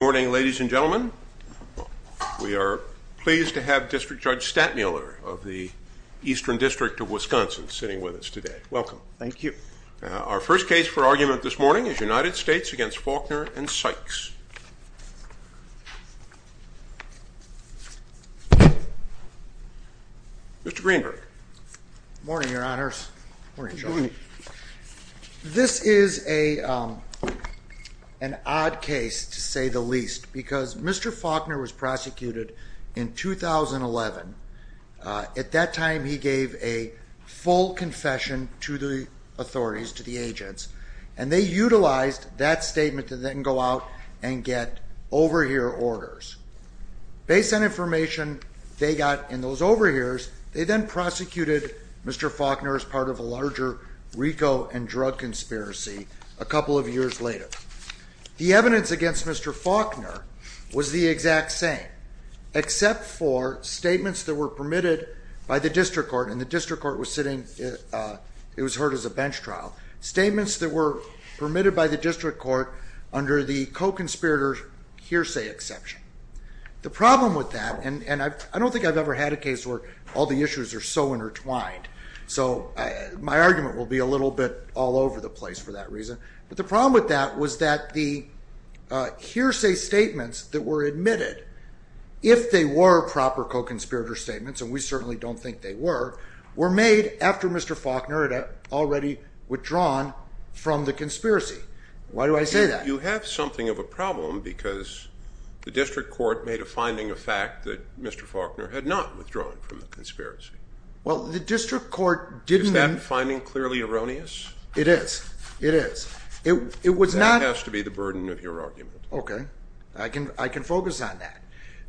Good morning ladies and gentlemen. We are pleased to have District Judge Stantmiller of the Eastern District of Wisconsin sitting with us today. Welcome. Thank you. Our first case for argument this morning is United States v. Faulkner v. Sykes. Mr. Greenberg. Good morning, your honors. Good morning, Sean. This is an odd case to say the least because Mr. Faulkner was prosecuted in 2011. At that time he gave a full confession to the authorities, to the agents, and they utilized that statement to then go out and get overhear orders. Based on information they got in those overhears, they then prosecuted Mr. Faulkner as part of a larger RICO and drug conspiracy a couple of years later. The evidence against Mr. Faulkner was the exact same, except for statements that were permitted by the district court, and the district court was heard as a bench trial, statements that were permitted by the district court under the co-conspirator hearsay exception. The problem with that, and I don't think I've ever had a case where all the issues are so intertwined, so my argument will be a little bit all over the place for that reason, but the problem with that was that the hearsay statements that were admitted, if they were proper co-conspirator statements, and we certainly don't think they were, were made after Mr. Faulkner had already withdrawn from the conspiracy. Why do I say that? You have something of a problem because the district court made a finding of fact that Mr. Faulkner had not withdrawn from the conspiracy. Well, the district court didn't... Is that finding clearly erroneous? It is. It is. It was not... That has to be the burden of your argument. Okay. I can focus on that.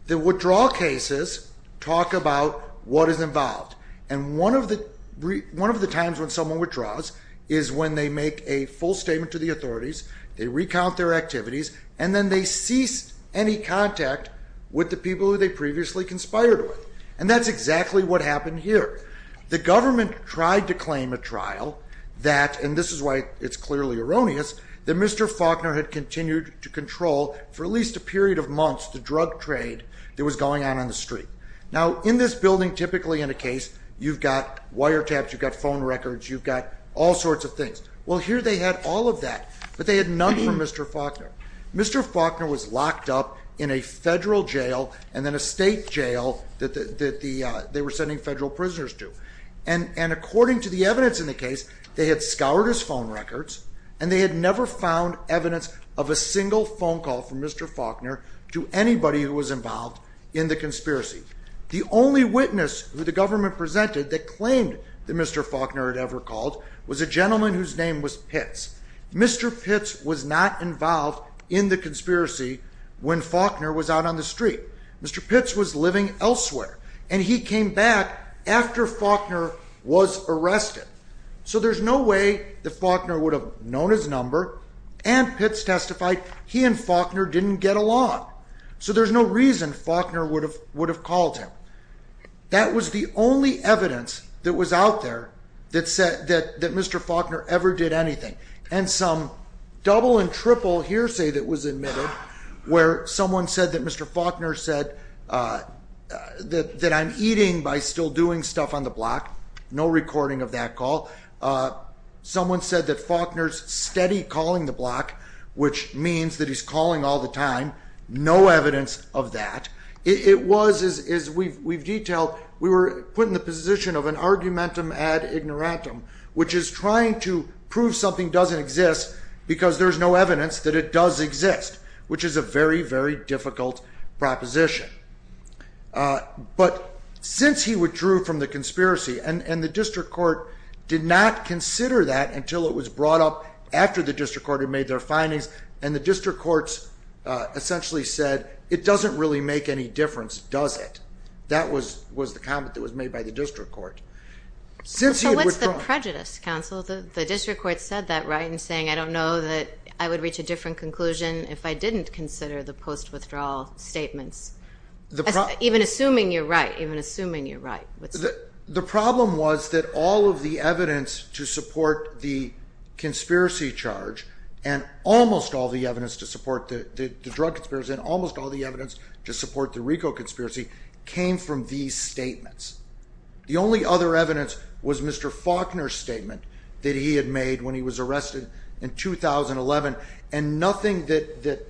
The withdrawal cases talk about what is involved, and one of the times when someone withdraws is when they make a full statement to the authorities, they recount their activities, and then they cease any contact with the people who they previously conspired with, and that's exactly what happened here. The government tried to claim at trial that, and this is why it's clearly erroneous, that Mr. Faulkner had continued to control, for at least a period of months, the drug trade that was going on on the street. Now, in this building, typically in a case, you've got wiretaps, you've got phone records, you've got all sorts of things. Well, here they had all of that, but they had none for Mr. Faulkner. Mr. Faulkner was locked up in a federal jail and then a state jail that they were sending federal prisoners to, and according to the evidence in the case, they had scoured his phone records, and they had never found evidence of a single phone call from Mr. Faulkner to anybody who was involved in the conspiracy. The only witness who the government presented that claimed that Mr. Faulkner had ever called was a gentleman whose name was Pitts. Mr. Pitts was not involved in the conspiracy when Faulkner was out on the street. Mr. Pitts was living elsewhere, and he came back after Faulkner was arrested. So there's no way that Faulkner would have known his number, and Pitts testified he and Faulkner didn't get along. So there's no reason Faulkner would have called him. That was the only evidence that was out there that said that Mr. Faulkner ever did anything, and some double and triple hearsay that was admitted where someone said that Mr. Faulkner said that I'm eating by still doing stuff on the block. No recording of that call. Someone said that Faulkner's steady calling the block, which means that he's calling all the time. No evidence of that. It was, as we've detailed, we were put in the position of an argumentum ad ignorantum, which is trying to prove something doesn't exist because there's no evidence that it does exist, which is a very, very difficult proposition. But since he withdrew from the conspiracy, and the district court did not consider that until it was brought up after the district court had made their findings, and the district courts essentially said it doesn't really make any difference, does it? That was the comment that was made by the district court. So what's the prejudice, counsel? The district court said that, right, in saying I don't know that I would reach a different conclusion if I didn't consider the post-withdrawal statements, even assuming you're right, even assuming you're right. The problem was that all of the evidence to support the conspiracy charge and almost all the evidence to support the drug conspiracy and almost all the evidence to support the RICO conspiracy came from these statements. The only other evidence was Mr. Faulkner's statement that he had made when he was arrested in 2011, and nothing that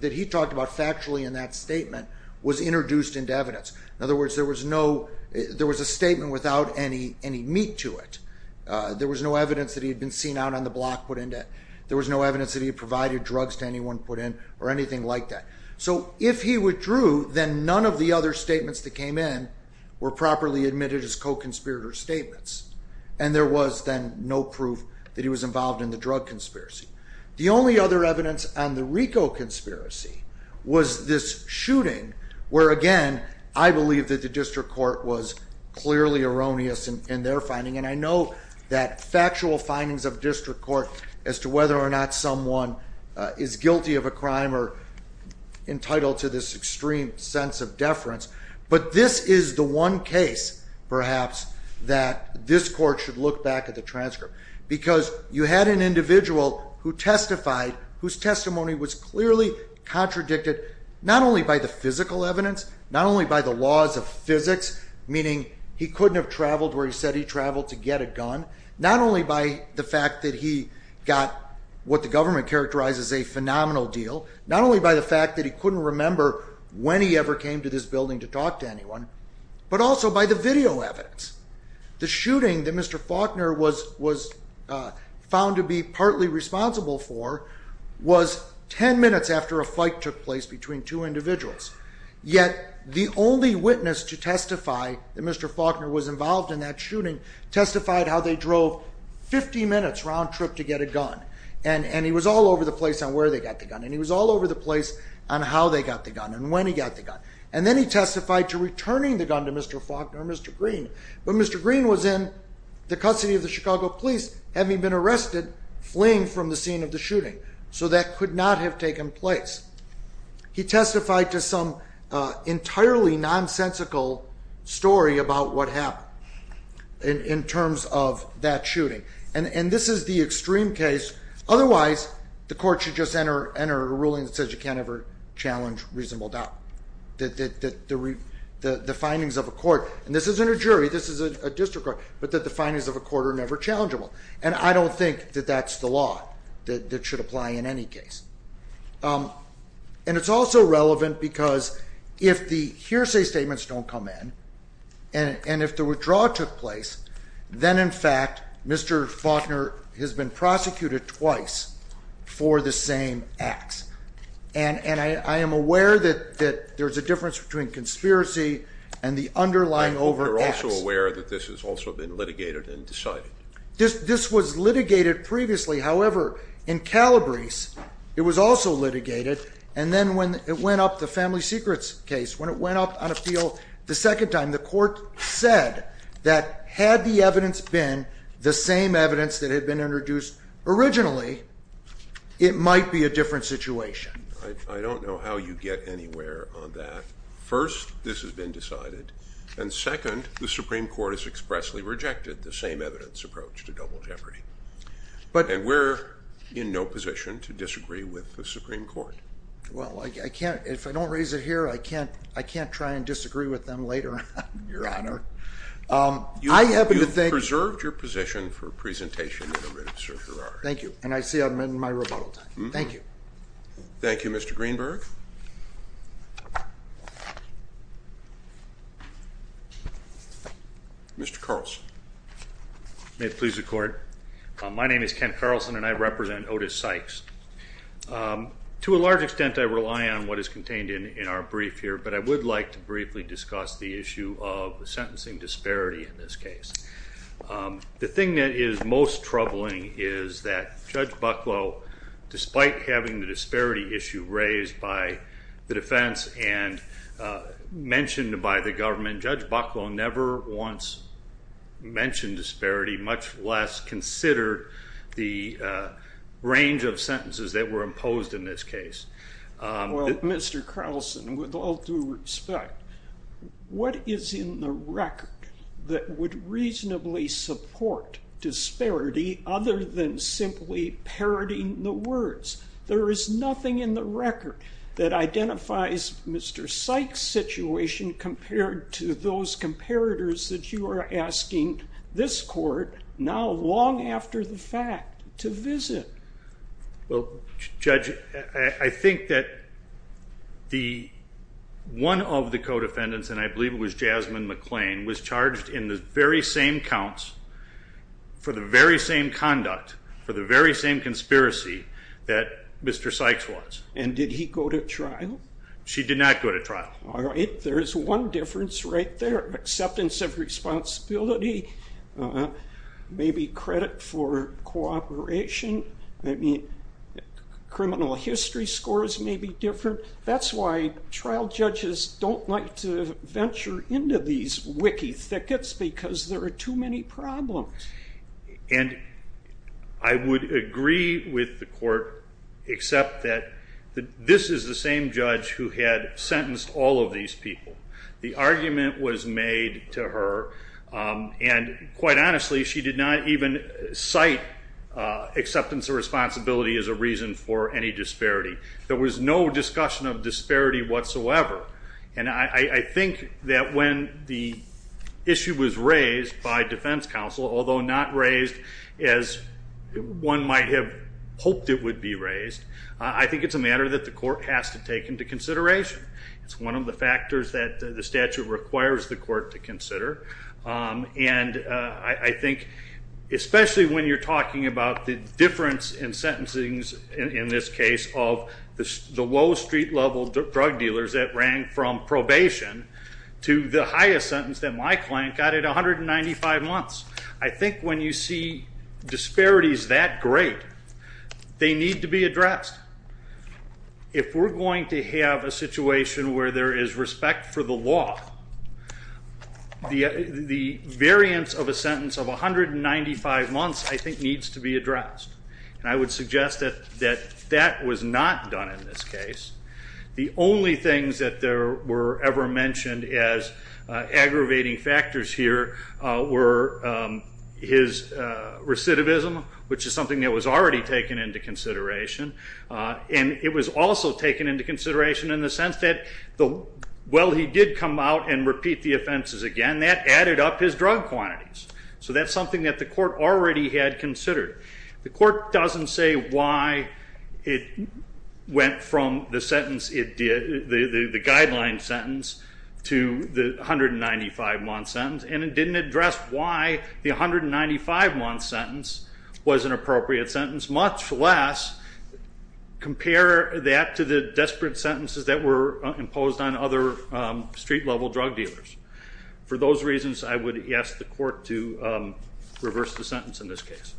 he talked about factually in that statement was introduced into evidence. In other words, there was a statement without any meat to it. There was no evidence that he had been seen out on the block put into it. There was no evidence that he had provided drugs to anyone put in or anything like that. So if he withdrew, then none of the other statements that came in were properly admitted as co-conspirator statements, and there was then no proof that he was involved in the drug conspiracy. The only other evidence on the RICO conspiracy was this shooting where, again, I believe that the district court was clearly erroneous in their finding, and I know that factual findings of district court as to whether or not someone is guilty of a crime are entitled to this extreme sense of deference, but this is the one case, perhaps, that this court should look back at the transcript because you had an individual who testified whose testimony was clearly contradicted not only by the physical evidence, not only by the laws of physics, meaning he couldn't have traveled where he said he traveled to get a gun, not only by the fact that he got what the government characterized as a phenomenal deal, not only by the fact that he couldn't remember when he ever came to this building to talk to anyone, but also by the video evidence. The shooting that Mr. Faulkner was found to be partly responsible for was 10 minutes after a fight took place between two individuals, yet the only witness to testify that Mr. Faulkner was involved in that shooting testified how they drove 50 minutes round trip to get a gun, and he was all over the place on where they got the gun, and he was all over the place on how they got the gun and when he got the gun, and then he testified to returning the gun to Mr. Faulkner or Mr. Green, but Mr. Green was in the custody of the Chicago police, having been arrested fleeing from the scene of the shooting, so that could not have taken place. He testified to some entirely nonsensical story about what happened in terms of that shooting, and this is the extreme case. Otherwise, the court should just enter a ruling that says you can't ever challenge reasonable doubt. The findings of a court, and this isn't a jury, this is a district court, but that the findings of a court are never challengeable, and I don't think that that's the law that should apply in any case. And it's also relevant because if the hearsay statements don't come in, and if the withdrawal took place, then in fact Mr. Faulkner has been prosecuted twice for the same acts, and I am aware that there's a difference between conspiracy and the underlying over acts. I hope you're also aware that this has also been litigated and decided. This was litigated previously, however, in Calabrese it was also litigated, and then when it went up, the Family Secrets case, when it went up on appeal the second time, the court said that had the evidence been the same evidence that had been introduced originally, it might be a different situation. I don't know how you get anywhere on that. First, this has been decided, and second, the Supreme Court has expressly rejected the same evidence approach to double jeopardy. And we're in no position to disagree with the Supreme Court. Well, if I don't raise it here, I can't try and disagree with them later, Your Honor. I happen to think... You've preserved your position for presentation in a written certiorari. Thank you, and I see I'm in my rebuttal time. Thank you. Thank you, Mr. Greenberg. Mr. Carlson. May it please the Court. My name is Kent Carlson, and I represent Otis Sykes. To a large extent, I rely on what is contained in our brief here, but I would like to briefly discuss the issue of the sentencing disparity in this case. The thing that is most troubling is that Judge Bucklow, despite having the disparity issue raised by the defense and mentioned by the government, Judge Bucklow never once mentioned disparity, much less considered the range of sentences that were imposed in this case. Well, Mr. Carlson, with all due respect, what is in the record that would reasonably support disparity other than simply parroting the words? There is nothing in the record that identifies Mr. Sykes' situation compared to those comparators that you are asking this Court, now long after the fact, to visit. Well, Judge, I think that one of the co-defendants, and I believe it was Jasmine McClain, was charged in the very same counts for the very same conduct, for the very same conspiracy that Mr. Sykes was. And did he go to trial? She did not go to trial. All right. There is one difference right there, acceptance of responsibility, maybe credit for cooperation, maybe criminal history scores may be different. That is why trial judges do not like to venture into these wicky thickets because there are too many problems. And I would agree with the Court, except that this is the same judge who had sentenced all of these people. The argument was made to her, and quite honestly she did not even cite acceptance of responsibility as a reason for any disparity. There was no discussion of disparity whatsoever. And I think that when the issue was raised by defense counsel, although not raised as one might have hoped it would be raised, I think it is a matter that the Court has to take into consideration. It is one of the factors that the statute requires the Court to consider. And I think especially when you are talking about the difference in sentencing in this case of the low street level drug dealers that rang from probation to the highest sentence that my client got at 195 months. I think when you see disparities that great, they need to be addressed. If we are going to have a situation where there is respect for the law, the variance of a sentence of 195 months I think needs to be addressed. And I would suggest that that was not done in this case. The only things that were ever mentioned as aggravating factors here were his recidivism, which is something that was already taken into consideration. And it was also taken into consideration in the sense that while he did come out and repeat the offenses again, that added up his drug quantities. So that is something that the Court already had considered. The Court doesn't say why it went from the guideline sentence to the 195-month sentence, and it didn't address why the 195-month sentence was an appropriate sentence, much less compare that to the desperate sentences that were imposed on other street-level drug dealers. For those reasons, I would ask the Court to reverse the sentence in this case.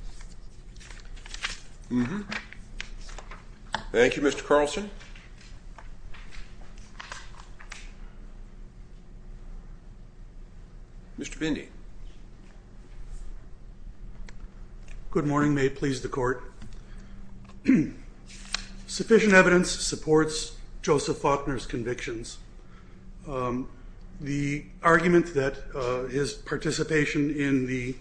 Thank you, Mr. Carlson. Any other questions? Mr. Bindi. Good morning. May it please the Court. Sufficient evidence supports Joseph Faulkner's convictions. The argument that his participation in the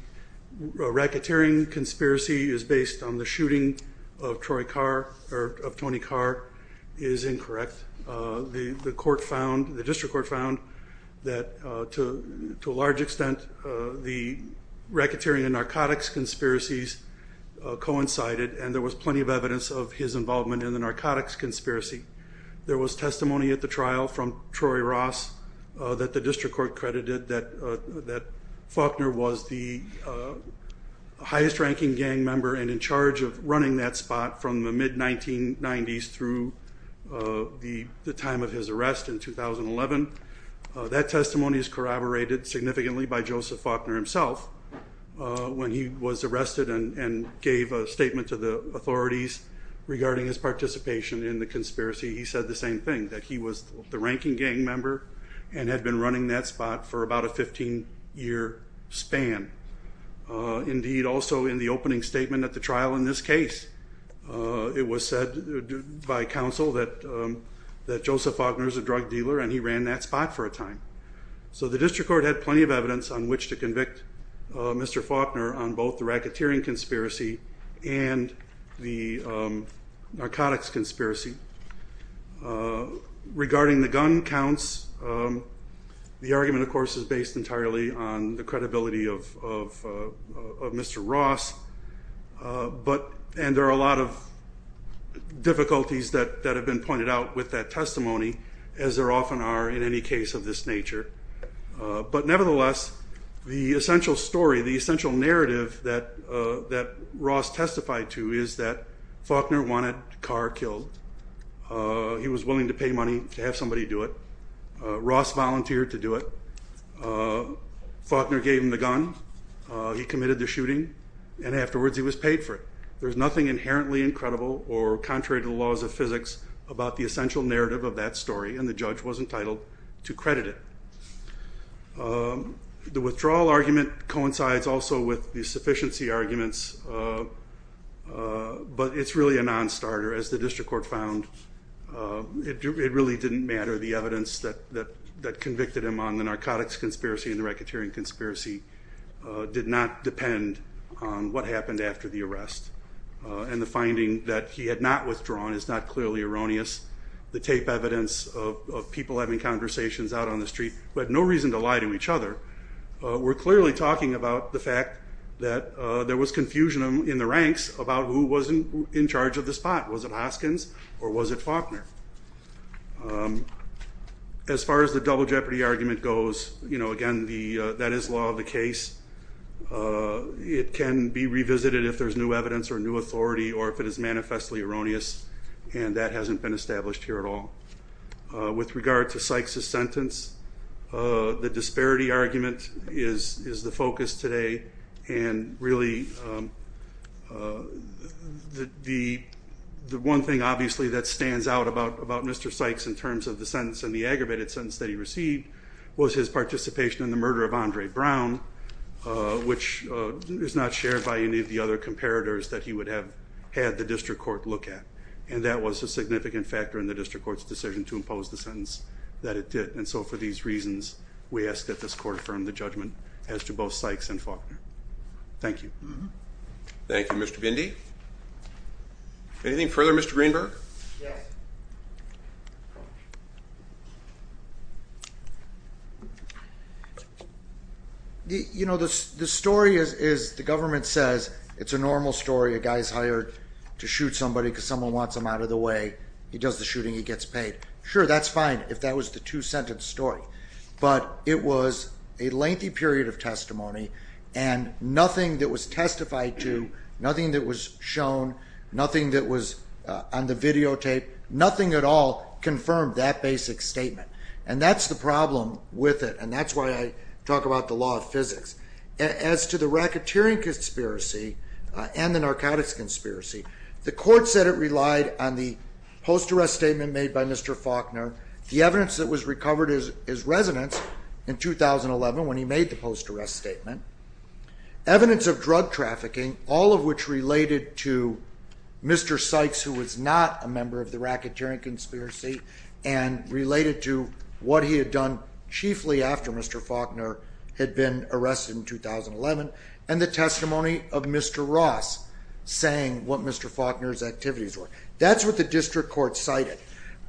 racketeering conspiracy is based on the shooting of Tony Carr is incorrect. The District Court found that, to a large extent, the racketeering and narcotics conspiracies coincided, and there was plenty of evidence of his involvement in the narcotics conspiracy. There was testimony at the trial from Troy Ross that the District Court running that spot from the mid-1990s through the time of his arrest in 2011. That testimony is corroborated significantly by Joseph Faulkner himself. When he was arrested and gave a statement to the authorities regarding his participation in the conspiracy, he said the same thing, that he was the ranking gang member and had been running that spot for about a 15-year span. Indeed, also in the opening statement at the trial in this case, it was said by counsel that Joseph Faulkner is a drug dealer and he ran that spot for a time. So the District Court had plenty of evidence on which to convict Mr. Faulkner on both the racketeering conspiracy and the narcotics conspiracy. Regarding the gun counts, the argument, of course, is based entirely on the testimony of Mr. Ross, and there are a lot of difficulties that have been pointed out with that testimony, as there often are in any case of this nature. But nevertheless, the essential story, the essential narrative that Ross testified to is that Faulkner wanted Carr killed. He was willing to pay money to have somebody do it. Ross volunteered to do it. Faulkner gave him the gun. He committed the shooting, and afterwards he was paid for it. There's nothing inherently incredible or contrary to the laws of physics about the essential narrative of that story, and the judge was entitled to credit it. The withdrawal argument coincides also with the sufficiency arguments, but it's really a non-starter. As the District Court found, it really didn't matter. The evidence that convicted him on the narcotics conspiracy and the racketeering conspiracy did not depend on what happened after the arrest. And the finding that he had not withdrawn is not clearly erroneous. The tape evidence of people having conversations out on the street who had no reason to lie to each other were clearly talking about the fact that there was confusion in the ranks about who was in charge of the spot. Was it Hoskins or was it Faulkner? As far as the double jeopardy argument goes, again, that is law of the case. It can be revisited if there's new evidence or new authority or if it is manifestly erroneous, and that hasn't been established here at all. With regard to Sykes' sentence, the disparity argument is the focus today and really the one thing, obviously, that stands out about Mr. Sykes in terms of the sentence and the aggravated sentence that he received was his participation in the murder of Andre Brown, which is not shared by any of the other comparators that he would have had the District Court look at. And that was a significant factor in the District Court's decision to impose the sentence that it did. And so for these reasons, we ask that this Court affirm the judgment as to both Sykes and Faulkner. Thank you. Thank you, Mr. Bindi. Anything further, Mr. Greenberg? Yes. You know, the story is the government says it's a normal story. A guy is hired to shoot somebody because someone wants him out of the way. He does the shooting. He gets paid. Sure, that's fine if that was the two-sentence story. But it was a lengthy period of testimony and nothing that was testified to, nothing that was shown, nothing that was on the videotape, nothing at all confirmed that basic statement. And that's the problem with it, and that's why I talk about the law of physics. As to the racketeering conspiracy and the narcotics conspiracy, the Court said it relied on the post-arrest statement made by Mr. Faulkner. The evidence that was recovered is resonance in 2011 when he made the post-arrest statement. Evidence of drug trafficking, all of which related to Mr. Sykes, who was not a member of the racketeering conspiracy, and related to what he had done chiefly after Mr. Faulkner had been arrested in 2011, and the testimony of Mr. Ross saying what Mr. Faulkner's activities were. That's what the district court cited.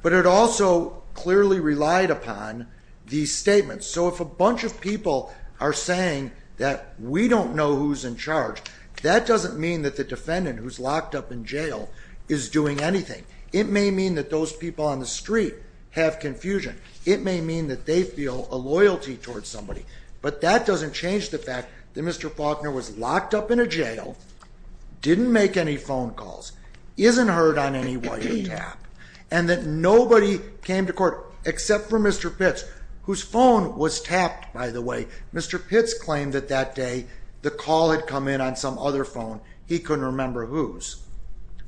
But it also clearly relied upon these statements. So if a bunch of people are saying that we don't know who's in charge, that doesn't mean that the defendant who's locked up in jail is doing anything. It may mean that those people on the street have confusion. It may mean that they feel a loyalty towards somebody. But that doesn't change the fact that Mr. Faulkner was locked up in a jail, didn't make any phone calls, isn't heard on any wiretap, and that nobody came to court except for Mr. Pitts, whose phone was tapped, by the way. Mr. Pitts claimed that that day the call had come in on some other phone. He couldn't remember whose.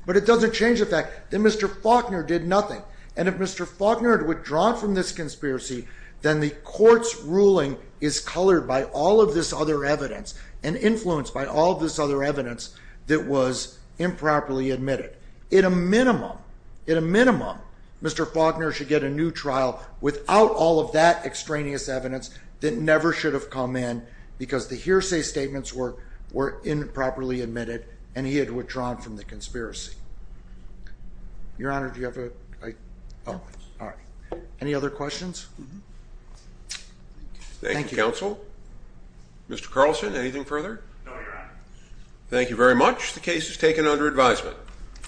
But it doesn't change the fact that Mr. Faulkner did nothing. And if Mr. Faulkner had withdrawn from this conspiracy, then the court's ruling is colored by all of this other evidence and influenced by all of this other evidence that was improperly admitted. In a minimum, in a minimum, Mr. Faulkner should get a new trial without all of that extraneous evidence that never should have come in because the hearsay statements were improperly admitted and he had withdrawn from the conspiracy. Your Honor, do you have a... Oh, all right. Any other questions? Thank you, counsel. Mr. Carlson, anything further? No, Your Honor. Thank you very much. The case is taken under advisement.